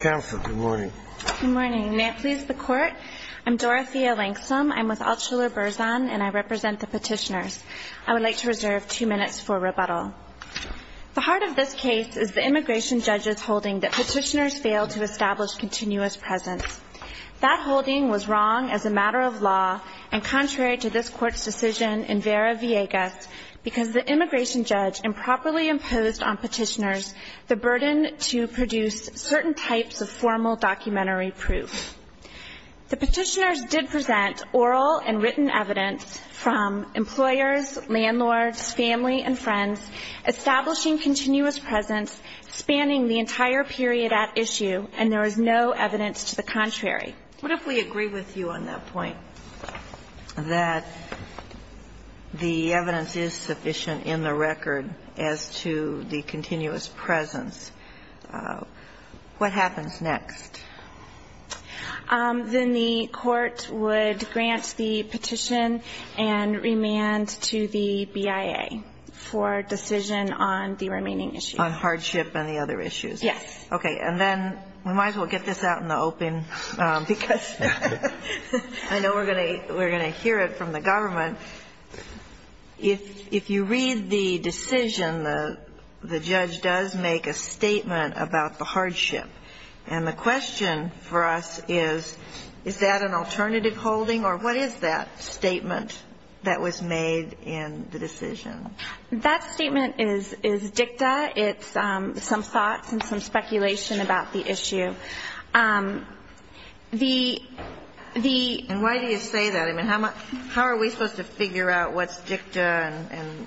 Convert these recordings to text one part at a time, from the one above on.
Counsel, good morning. Good morning. May it please the court. I'm Dorothea Langsom. I'm with Altshuler-Berzan and I represent the petitioners. I would like to reserve two minutes for rebuttal. The heart of this case is the immigration judge's holding that petitioners failed to establish continuous presence. That holding was wrong as a matter of law and contrary to this court's decision in Vera-Villegas because the immigration judge improperly imposed on petitioners the burden to produce certain types of formal documentary proof. The petitioners did present oral and written evidence from employers, landlords, family and friends establishing continuous presence spanning the entire period at issue and there was no evidence to the contrary. What if we agree with you on that point, that the evidence is sufficient in the record as to the continuous presence? What happens next? Then the court would grant the petition and remand to the BIA for decision on the remaining issue. On hardship and the other issues? Yes. Okay. And then we might as well get this out in the open because I know we're going to hear it from the government. If you read the decision, the judge does make a statement about the hardship. And the question for us is, is that an alternative holding or what is that statement that was made in the decision? That statement is dicta. It's some thoughts and some speculation about the issue. The ‑‑ And why do you say that? I mean, how are we supposed to figure out what's dicta and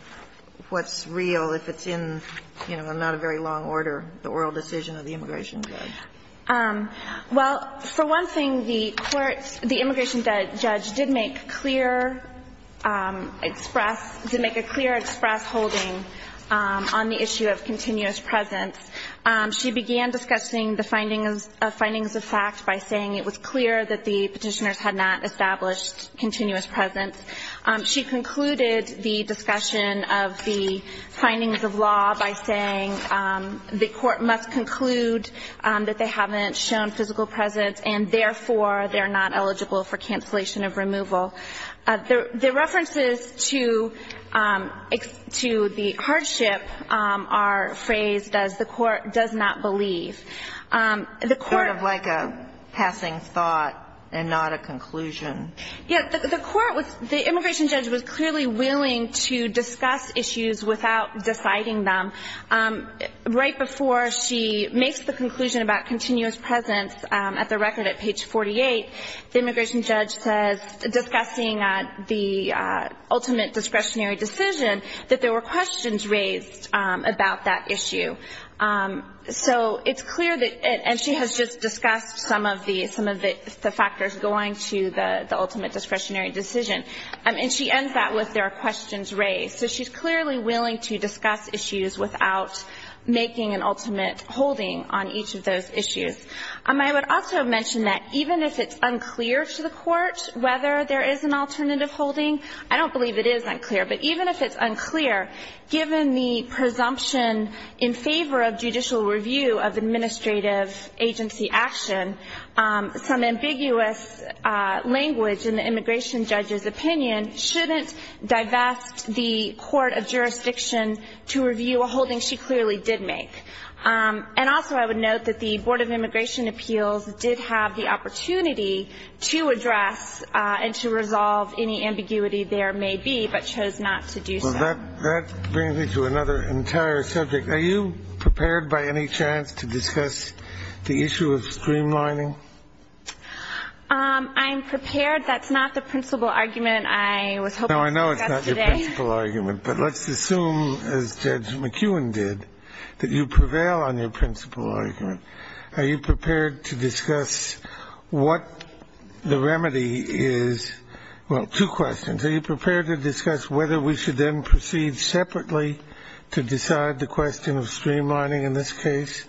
what's real if it's in, you know, not a very long order, the oral decision of the immigration judge? Well, for one thing, the courts ‑‑ the immigration judge did make clear express ‑‑ did make a clear express holding on the issue of continuous presence. She began discussing the findings of fact by saying it was clear that the petitioners had not established continuous presence. She concluded the discussion of the findings of law by saying the court must conclude that they haven't shown physical presence and, therefore, they're not eligible for cancellation of removal. The references to the hardship are phrased as the court does not believe. The court ‑‑ Sort of like a passing thought and not a conclusion. Yeah, the court was ‑‑ the immigration judge was clearly willing to discuss issues without deciding them. Right before she makes the conclusion about continuous presence at the record at page 48, the immigration judge says, discussing the ultimate discretionary decision, that there were questions raised about that issue. So it's clear that ‑‑ and she has just discussed some of the factors going to the ultimate discretionary decision. And she ends that with there are questions raised. So she's clearly willing to discuss issues without making an ultimate holding on each of those issues. I would also mention that even if it's unclear to the court whether there is an alternative holding, I don't believe it is unclear, but even if it's favor of judicial review of administrative agency action, some ambiguous language in the immigration judge's opinion shouldn't divest the court of jurisdiction to review a holding she clearly did make. And also I would note that the Board of Immigration Appeals did have the opportunity to address and to resolve any ambiguity there may be, but chose not to do so. That brings me to another entire subject. Are you prepared by any chance to discuss the issue of streamlining? I'm prepared. That's not the principal argument I was hoping to discuss today. No, I know it's not your principal argument, but let's assume, as Judge McEwen did, that you prevail on your principal argument. Are you prepared to discuss what the remedy is? Well, two questions. Are you prepared to discuss whether we should then proceed separately to decide the question of streamlining in this case?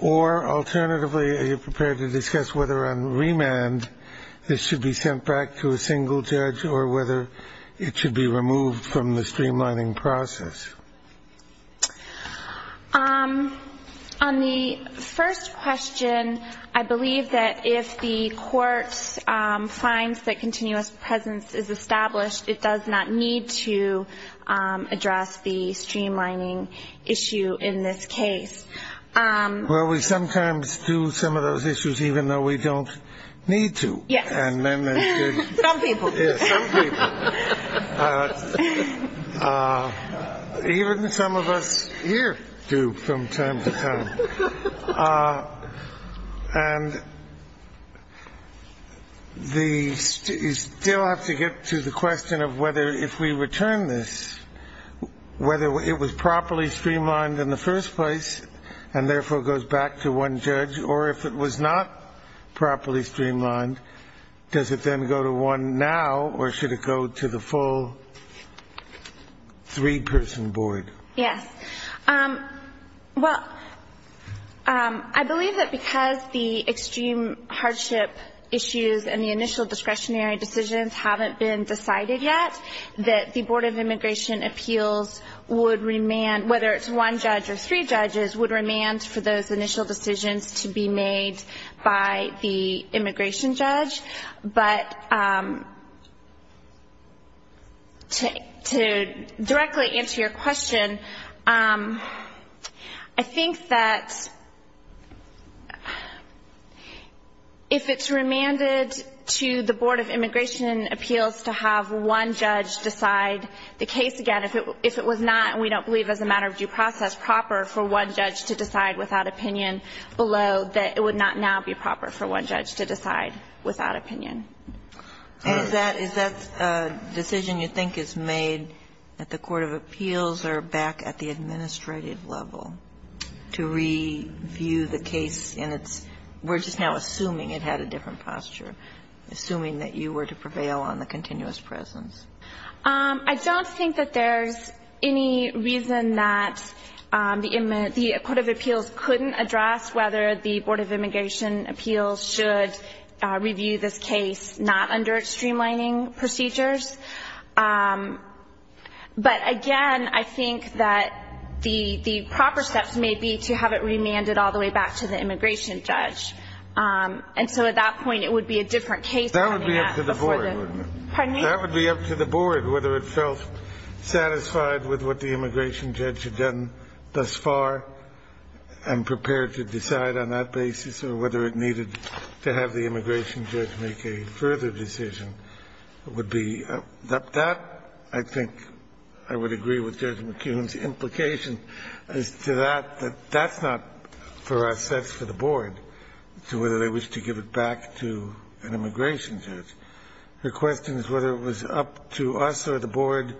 Or alternatively, are you prepared to discuss whether on remand this should be sent back to a single judge or whether it should be removed from the streamlining process? On the first question, I believe that if the court finds that continuous presence is established, it does not need to address the streamlining issue in this case. Well, we sometimes do some of those issues even though we don't need to. Yes. And then there's the... Some people. Yes, some people. Even some of us here do from time to time. And you still have to get to the question of whether if we return this, whether it was properly streamlined in the first place and therefore goes back to one judge, or if it was not properly streamlined, does it then go to one now or should it go to the full three-person board? Yes. Well, I believe that because the extreme hardship issues and the initial discretionary decisions haven't been decided yet, that the Board of Immigration Appeals would remand, whether it's one judge or three judges, would remand for those initial decisions to be made by the immigration judge. But to directly answer your question, I think that if it's remanded to the Board of Immigration Appeals to have one judge decide the case again, if it was not, we don't believe as a matter of due process, proper for one judge to decide without opinion below, that it would not now be proper for one judge to decide without opinion. Is that a decision you think is made that the Court of Appeals are back at the administrative level to review the case in its... We're just now assuming it had a different posture, assuming that you were to prevail on the continuous presence. I don't think that there's any reason that the Court of Appeals couldn't address whether the Board of Immigration Appeals should review this case not under streamlining procedures. But again, I think that the proper steps may be to have it remanded all the way back to the immigration judge. And so at that point, it would be a different case... That would be up to the board. Pardon me? That would be up to the board whether it felt satisfied with what the immigration judge had done thus far and prepared to decide on that basis or whether it needed to have the immigration judge make a further decision. That, I think, I would agree with Judge McKeown's implication as to that, that that's not for us, that's for the board. So whether they wish to give it back to an immigration judge. The question is whether it was up to us or the board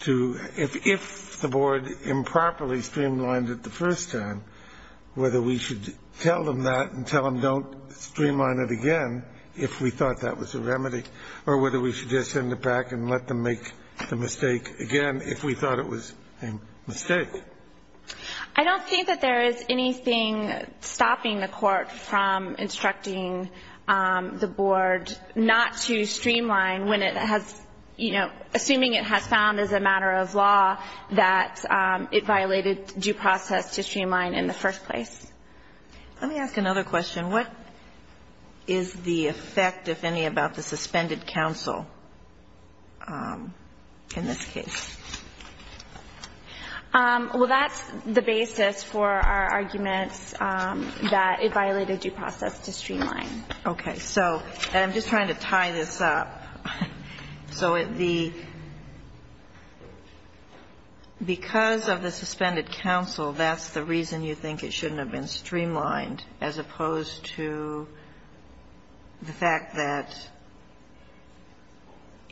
to, if the board improperly streamlined it the first time, whether we should tell them that and tell them don't streamline it again if we thought that was a remedy or whether we should just send it back and let them make the mistake again if we thought it was a mistake. I don't think that there is anything stopping the court from instructing the board not to streamline when it has, you know, assuming it has found as a matter of law that it violated due process to streamline in the first place. Let me ask another question. What is the effect, if any, about the suspended counsel in this case? Well, that's the basis for our arguments that it violated due process to streamline. Okay. So I'm just trying to tie this up. So the – because of the suspended counsel, that's the reason you think it shouldn't have been streamlined, as opposed to the fact that,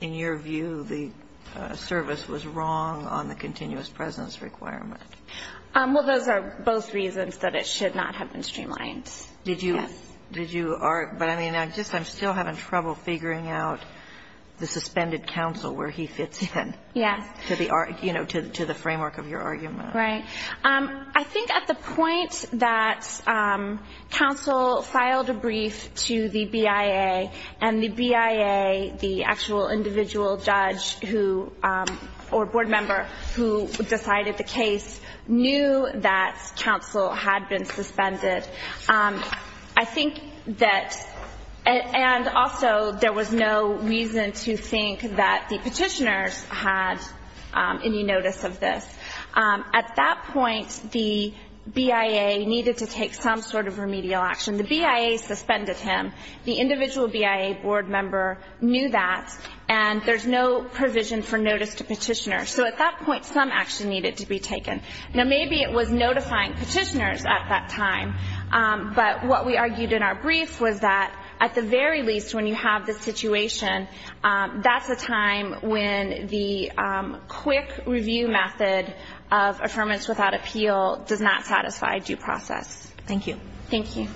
in your view, the service was wrong on the continuous presence requirement. Well, those are both reasons that it should not have been streamlined. Did you – but I mean, I'm still having trouble figuring out the suspended counsel, where he fits in. Yes. To the framework of your argument. Right. I think at the point that counsel filed a brief to the BIA, and the BIA, the actual individual judge who – or board member who decided the case, knew that counsel had been suspended. I think that – and also, there was no reason to think that the petitioners had any notice of this. At that point, the BIA needed to take some sort of remedial action. The BIA suspended him. The individual BIA board member knew that, and there's no provision for notice to petitioners. So at that point, some action needed to be taken. Now, maybe it was notifying petitioners at that time, but what we argued in our brief was that, at the very least, when you have this situation, that's a time when the quick-review method of affirmance without appeal does not satisfy due process. Thank you. Thank you.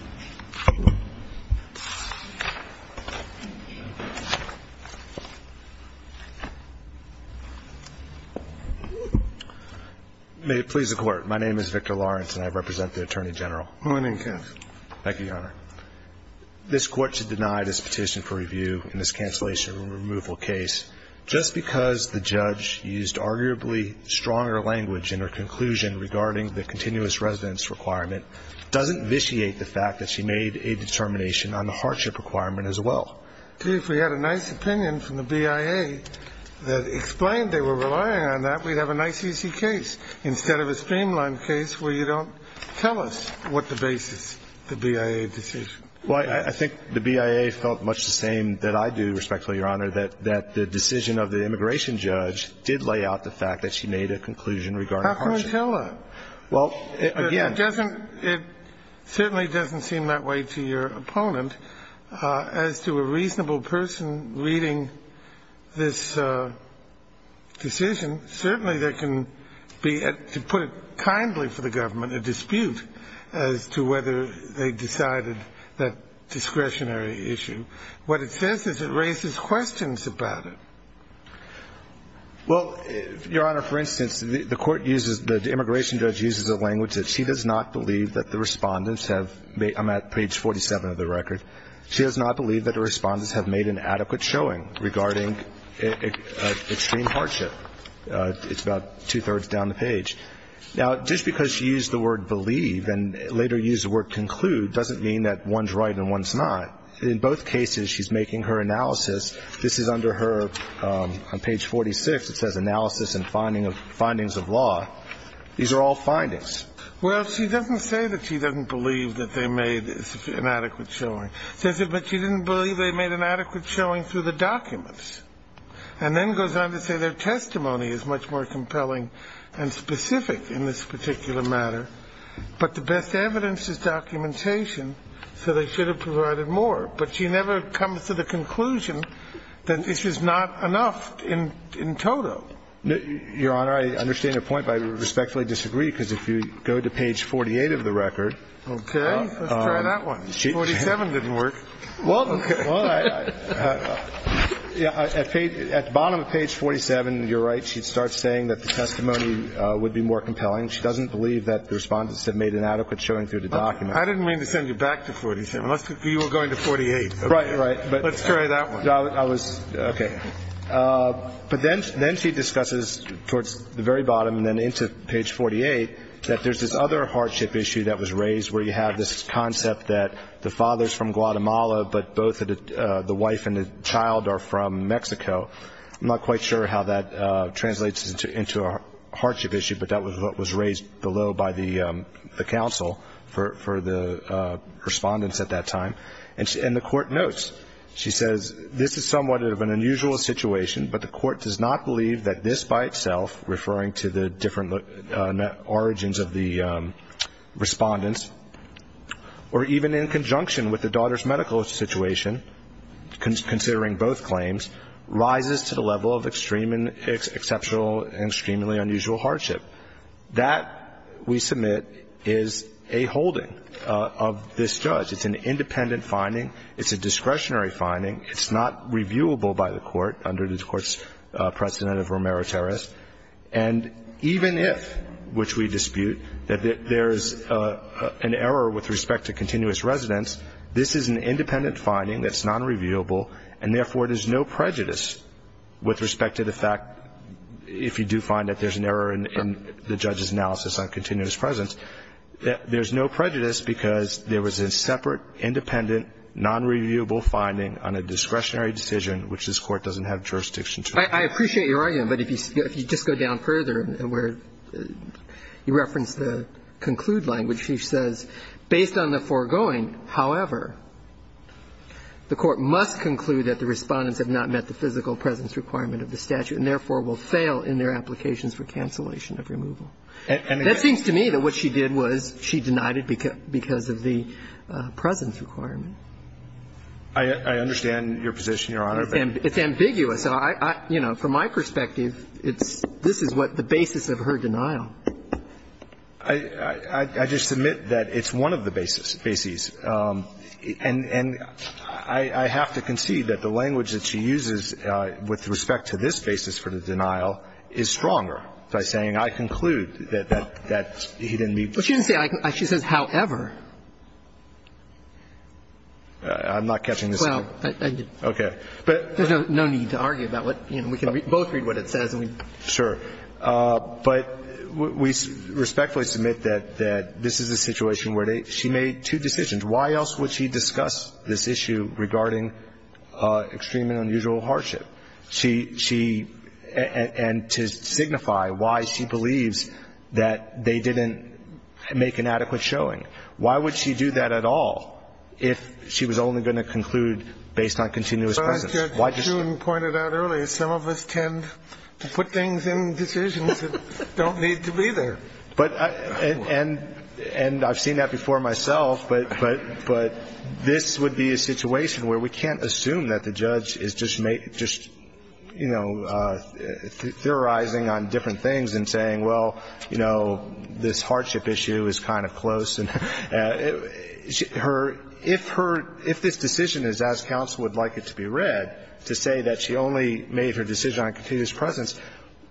May it please the Court. My name is Victor Lawrence, and I represent the Attorney General. My name is Ken. Thank you, Your Honor. This Court should deny this petition for review in this cancellation and removal case just because the judge used arguably stronger language in her conclusion regarding the continuous residence requirement doesn't vitiate the fact that she made a determination on the hardship requirement as well. See, if we had a nice opinion from the BIA that explained they were relying on that, we'd have a nice, easy case, instead of a streamlined case where you don't tell us what the basis is of the BIA decision. Well, I think the BIA felt much the same that I do, respectfully, Your Honor, that the decision of the immigration judge did lay out the fact that she made a conclusion regarding hardship. How can we tell that? Well, again — It doesn't — it certainly doesn't seem that way to your opponent. As to a reasonable person reading this decision, certainly there can be, to put it kindly for the government, a dispute as to whether they decided that discretionary issue. What it says is it raises questions about it. Well, Your Honor, for instance, the Court uses — the immigration judge uses a language that she does not believe that the Respondents have made — I'm at page 47 of the record. She does not believe that the Respondents have made an adequate showing regarding extreme hardship. It's about two-thirds down the page. Now, just because she used the word believe and later used the word conclude doesn't mean that one's right and one's not. In both cases, she's making her analysis. This is under her — on page 46, it says analysis and findings of law. These are all findings. Well, she doesn't say that she doesn't believe that they made an adequate showing. She says, but she didn't believe they made an adequate showing through the documents, and then goes on to say their testimony is much more compelling and specific in this particular matter, but the best evidence is documentation, so they should have provided more. But she never comes to the conclusion that this is not enough in total. Your Honor, I understand your point, but I respectfully disagree, because if you go to page 48 of the record — Okay. Let's try that one. 47 didn't work. Well, at the bottom of page 47, you're right, she starts saying that the testimony would be more compelling. She doesn't believe that the Respondents have made an adequate showing through the documents. I didn't mean to send you back to 47. You were going to 48. Right, right. Let's try that one. I was — okay. But then she discusses towards the very bottom and then into page 48 that there's this other both the wife and the child are from Mexico. I'm not quite sure how that translates into a hardship issue, but that was what was raised below by the counsel for the Respondents at that time. And the Court notes, she says, this is somewhat of an unusual situation, but the Court does not believe that this by itself, referring to the different origins of the Respondents, or even in conjunction with the daughter's medical situation, considering both claims, rises to the level of extreme and exceptional and extremely unusual hardship. That, we submit, is a holding of this judge. It's an independent finding. It's a discretionary finding. It's not reviewable by the Court under the Court's precedent of romero terris. And even if, which we dispute, that there's an error with respect to continuous residence, this is an independent finding that's nonreviewable, and therefore, there's no prejudice with respect to the fact, if you do find that there's an error in the judge's analysis on continuous presence, that there's no prejudice because there was a separate, independent, nonreviewable finding on a discretionary decision, which this Court doesn't have jurisdiction to. I appreciate your argument, but if you just go down further where you reference the conclude language, she says, based on the foregoing, however, the Court must conclude that the Respondents have not met the physical presence requirement of the statute and therefore will fail in their applications for cancellation of removal. That seems to me that what she did was she denied it because of the presence requirement. I understand your position, Your Honor. It's ambiguous. And I, you know, from my perspective, it's this is what the basis of her denial. I just submit that it's one of the bases. And I have to concede that the language that she uses with respect to this basis for the denial is stronger by saying I conclude that he didn't meet. But she didn't say, she says, however. I'm not catching this. Okay. There's no need to argue about what, you know, we can both read what it says. Sure. But we respectfully submit that this is a situation where she made two decisions. Why else would she discuss this issue regarding extreme and unusual hardship? She, and to signify why she believes that they didn't make an adequate showing. Why would she do that at all if she was only going to conclude based on continuous presence? Well, as Judge June pointed out earlier, some of us tend to put things in decisions that don't need to be there. And I've seen that before myself. But this would be a situation where we can't assume that the judge is just, you know, theorizing on different things and saying, well, you know, this hardship issue is kind of close. And her, if her, if this decision is as counsel would like it to be read, to say that she only made her decision on continuous presence,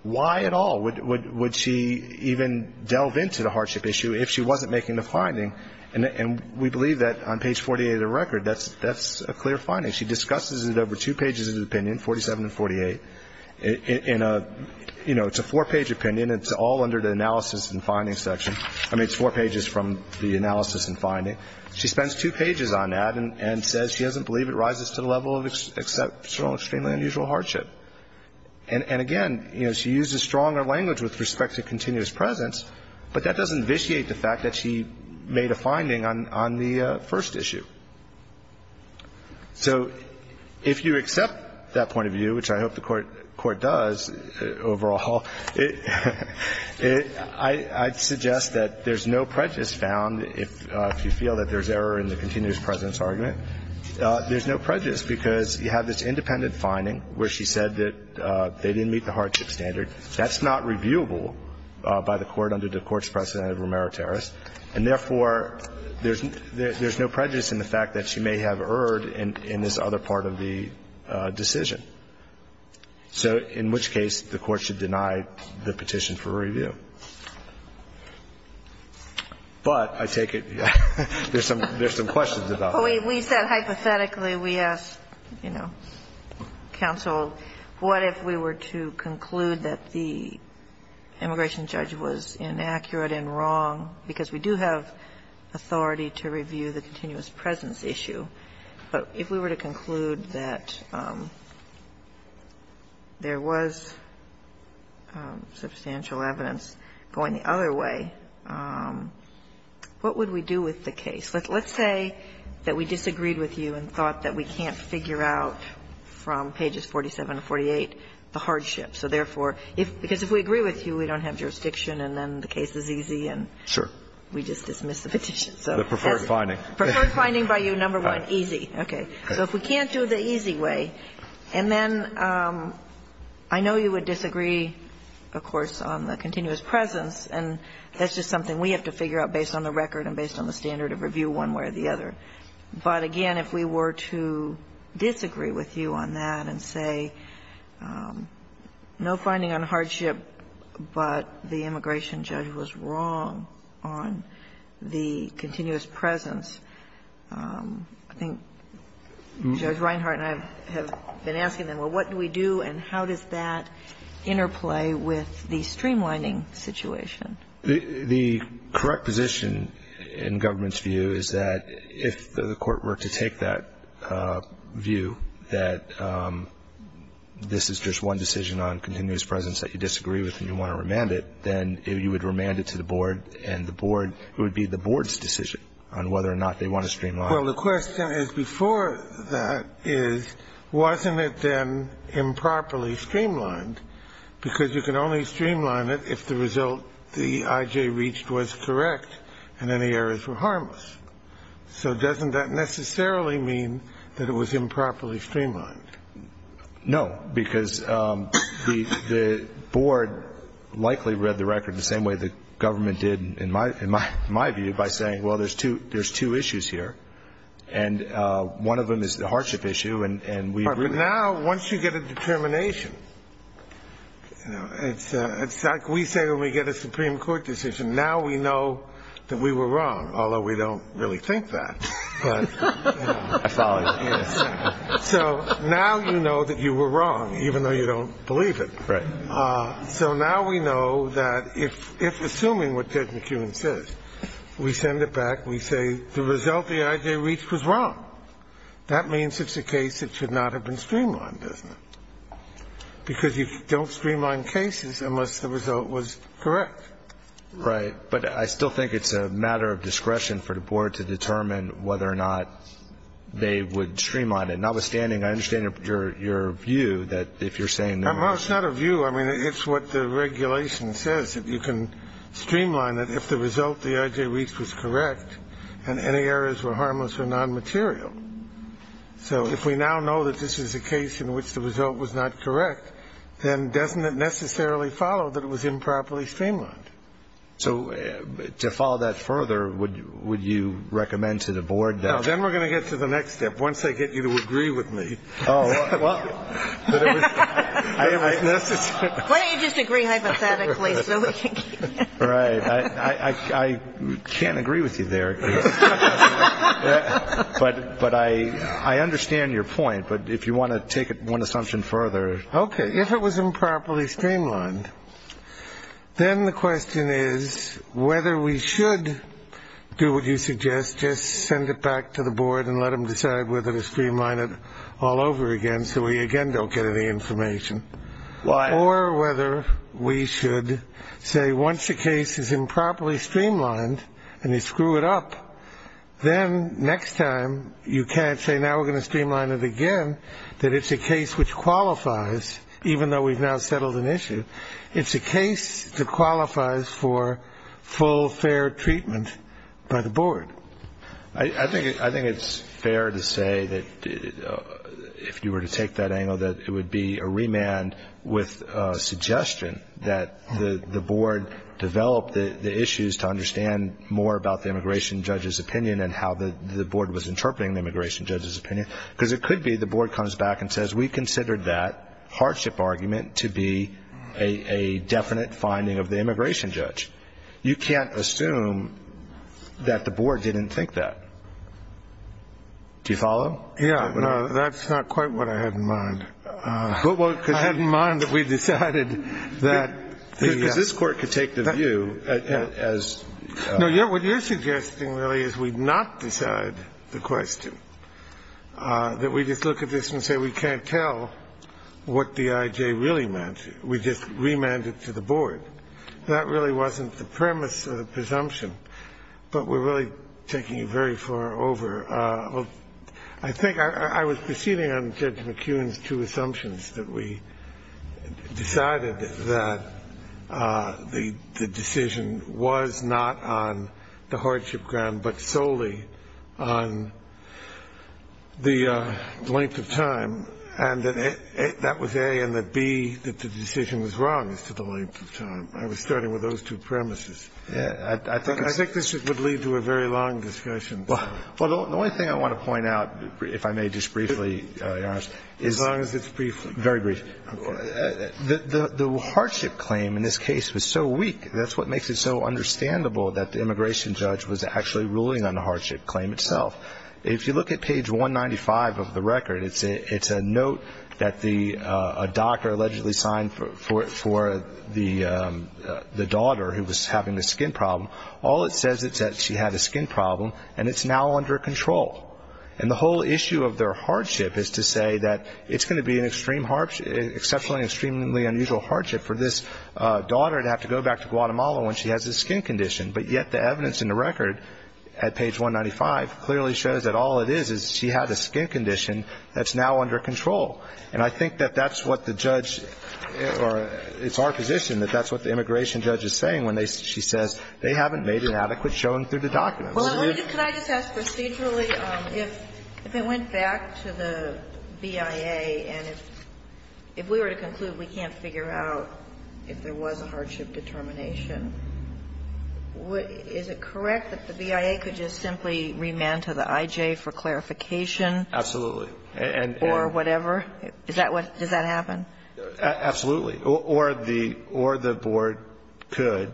why at all would she even delve into the hardship issue if she wasn't making the finding? And we believe that on page 48 of the record, that's a clear finding. She discusses it over two pages of the opinion, 47 and 48. In a, you know, it's a four-page opinion. It's all under the analysis and findings section. I mean, it's four pages from the analysis and finding. She spends two pages on that and says she doesn't believe it rises to the level of exceptional, extremely unusual hardship. And again, you know, she uses stronger language with respect to continuous presence, but that doesn't vitiate the fact that she made a finding on the first issue. So if you accept that point of view, which I hope the Court does overall, it, I'd suggest that, there's no prejudice found if you feel that there's error in the continuous presence argument. There's no prejudice because you have this independent finding where she said that they didn't meet the hardship standard. That's not reviewable by the Court under the Court's precedent of remeritaris. And therefore, there's no prejudice in the fact that she may have erred in this other part of the decision. So in which case, the Court should deny the petition for review. But I take it there's some questions about that. We said hypothetically, we asked, you know, counsel, what if we were to conclude that the immigration judge was inaccurate and wrong, because we do have authority to review the continuous presence issue. But if we were to conclude that there was substantial evidence going the other way, what would we do with the case? Let's say that we disagreed with you and thought that we can't figure out from pages 47 or 48 the hardship. So therefore, if we agree with you, we don't have jurisdiction, and then the case is easy, and we just dismiss the petition. So that's it. The preferred finding. Preferred finding by you, number one. It's not easy. Okay. So if we can't do it the easy way, and then I know you would disagree, of course, on the continuous presence, and that's just something we have to figure out based on the record and based on the standard of review one way or the other. But again, if we were to disagree with you on that and say no finding on hardship, but the immigration judge was wrong on the continuous presence, I think Judge Reinhart and I have been asking them, well, what do we do and how does that interplay with the streamlining situation? The correct position in government's view is that if the Court were to take that view, that this is just one decision on continuous presence that you disagree with and you want to remand it, then you would remand it to the board and the board would be the board's decision on whether or not they want to streamline it. Well, the question is before that is, wasn't it then improperly streamlined? Because you can only streamline it if the result the I.J. reached was correct and any errors were harmless. So doesn't that necessarily mean that it was improperly streamlined? No, because the board likely read the record the same way the government did in my view by saying, well, there's two issues here, and one of them is the hardship issue. But now once you get a determination, it's like we say when we get a Supreme Court decision, now we know that we were wrong, although we don't really think that. So now you know that you were wrong, even though you don't believe it. So now we know that if, assuming what Judge McEwen says, we send it back, we say the result the I.J. reached was wrong. That means it's a case that should not have been streamlined, doesn't it? Because you don't streamline cases unless the result was correct. Right. But I still think it's a matter of discretion for the board to determine whether or not they would streamline it. Notwithstanding, I understand your view that if you're saying that we're wrong. Well, it's not a view. I mean, it's what the regulation says, that you can streamline it if the result the I.J. reached was correct and any errors were harmless or nonmaterial. So if we now know that this is a case in which the result was not correct, then doesn't that necessarily follow that it was improperly streamlined? So to follow that further, would you recommend to the board that... No, then we're going to get to the next step, once I get you to agree with me. Oh, well. Why don't you just agree hypothetically so we can get... Right. I can't agree with you there. But I understand your point. But if you want to take it one assumption further... If it was improperly streamlined, then the question is whether we should do what you suggest, just send it back to the board and let them decide whether to streamline it all over again so we again don't get any information. Why? Or whether we should say once the case is improperly streamlined and you screw it up, then next time you can't say now we're going to streamline it again, that it's a case which qualifies, even though we've now settled an issue, it's a case that qualifies for full, fair treatment by the board. I think it's fair to say that if you were to take that angle, that it would be a remand with a suggestion that the board develop the issues to understand more about the immigration judge's opinion because it could be the board comes back and says, we considered that hardship argument to be a definite finding of the immigration judge. You can't assume that the board didn't think that. Do you follow? Yeah. That's not quite what I had in mind. I had in mind that we decided that the... Because this Court could take the view as... That we just look at this and say we can't tell what the IJ really meant. We just remanded to the board. That really wasn't the premise of the presumption. But we're really taking it very far over. I think I was proceeding on Judge McKeown's two assumptions, that we decided that the decision was not on the hardship ground but solely on the length of time, and that that was A, and that B, that the decision was wrong as to the length of time. I was starting with those two premises. I think this would lead to a very long discussion. Well, the only thing I want to point out, if I may just briefly, Your Honor... As long as it's briefly... Very briefly. The hardship claim in this case was so weak. That's what makes it so understandable that the immigration judge was actually ruling on the hardship claim itself. If you look at page 195 of the record, it's a note that a doctor allegedly signed for the daughter who was having a skin problem. All it says is that she had a skin problem, and it's now under control. And the whole issue of their hardship is to say that it's going to be an exceptionally, extremely unusual hardship for this daughter to have to go back to Guatemala when she has a skin condition. But yet the evidence in the record at page 195 clearly shows that all it is is she had a skin condition that's now under control. And I think that that's what the judge or it's our position that that's what the immigration judge is saying when she says they haven't made an adequate showing through the documents. Well, can I just ask procedurally, if it went back to the BIA and if we were to conclude we can't figure out if there was a hardship determination, is it correct that the BIA could just simply remand to the IJ for clarification? Absolutely. Or whatever? Does that happen? Absolutely. Or the board could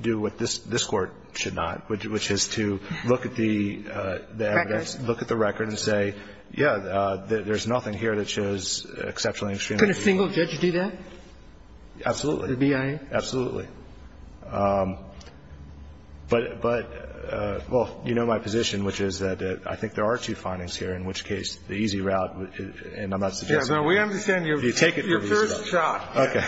do what this Court should not, which is to look at the evidence, look at the record and say, yeah, there's nothing here that shows exceptionally, extremely unusual. Can a single judge do that? Absolutely. The BIA? Absolutely. But, well, you know my position, which is that I think there are two findings here, in which case the easy route, and I'm not suggesting you take it for yourself. We understand your first shot. Okay.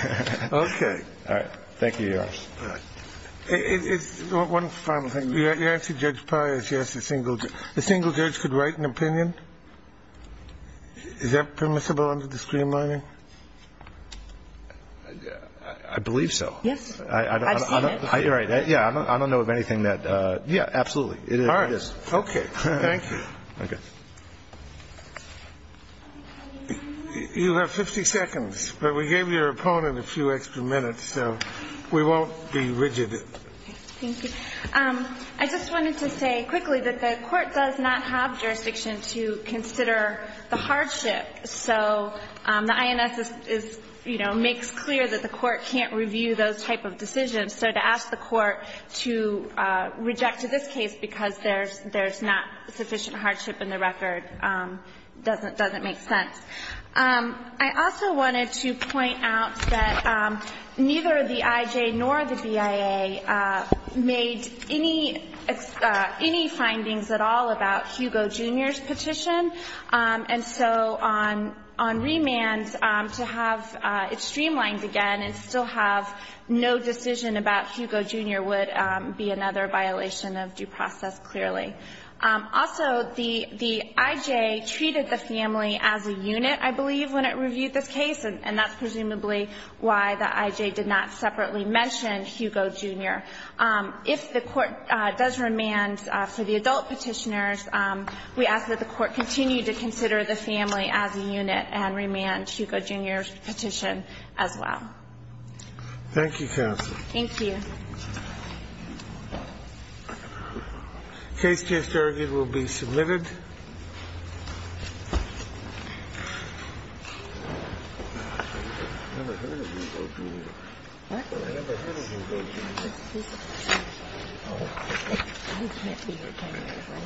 Okay. All right. Thank you, Your Honor. All right. One final thing. You asked Judge Pius. You asked the single judge. The single judge could write an opinion. Is that permissible under the streamlining? I believe so. Yes. I've seen it. You're right. Yeah. I don't know of anything that – yeah, absolutely. It is. All right. Okay. Thank you. Okay. You have 50 seconds, but we gave your opponent a few extra minutes, so we won't be rigid. Thank you. I just wanted to say quickly that the Court does not have jurisdiction to consider the hardship. So the INS is, you know, makes clear that the Court can't review those type of decisions. So to ask the Court to reject this case because there's not sufficient hardship in the record doesn't make sense. I also wanted to point out that neither the IJ nor the BIA made any findings at all about Hugo Jr.'s petition. And so on remand, to have it streamlined again and still have no decision about Hugo Jr. would be another violation of due process, clearly. Also, the IJ treated the family as a unit, I believe, when it reviewed this case, and that's presumably why the IJ did not separately mention Hugo Jr. If the Court does remand for the adult Petitioners, we ask that the Court continue to consider the family as a unit and remand Hugo Jr.'s petition as well. Thank you, counsel. Thank you. Case case derogate will be submitted. Thank you. I've never heard of Hugo Jr. What? I've never heard of Hugo Jr. He can't be here tonight.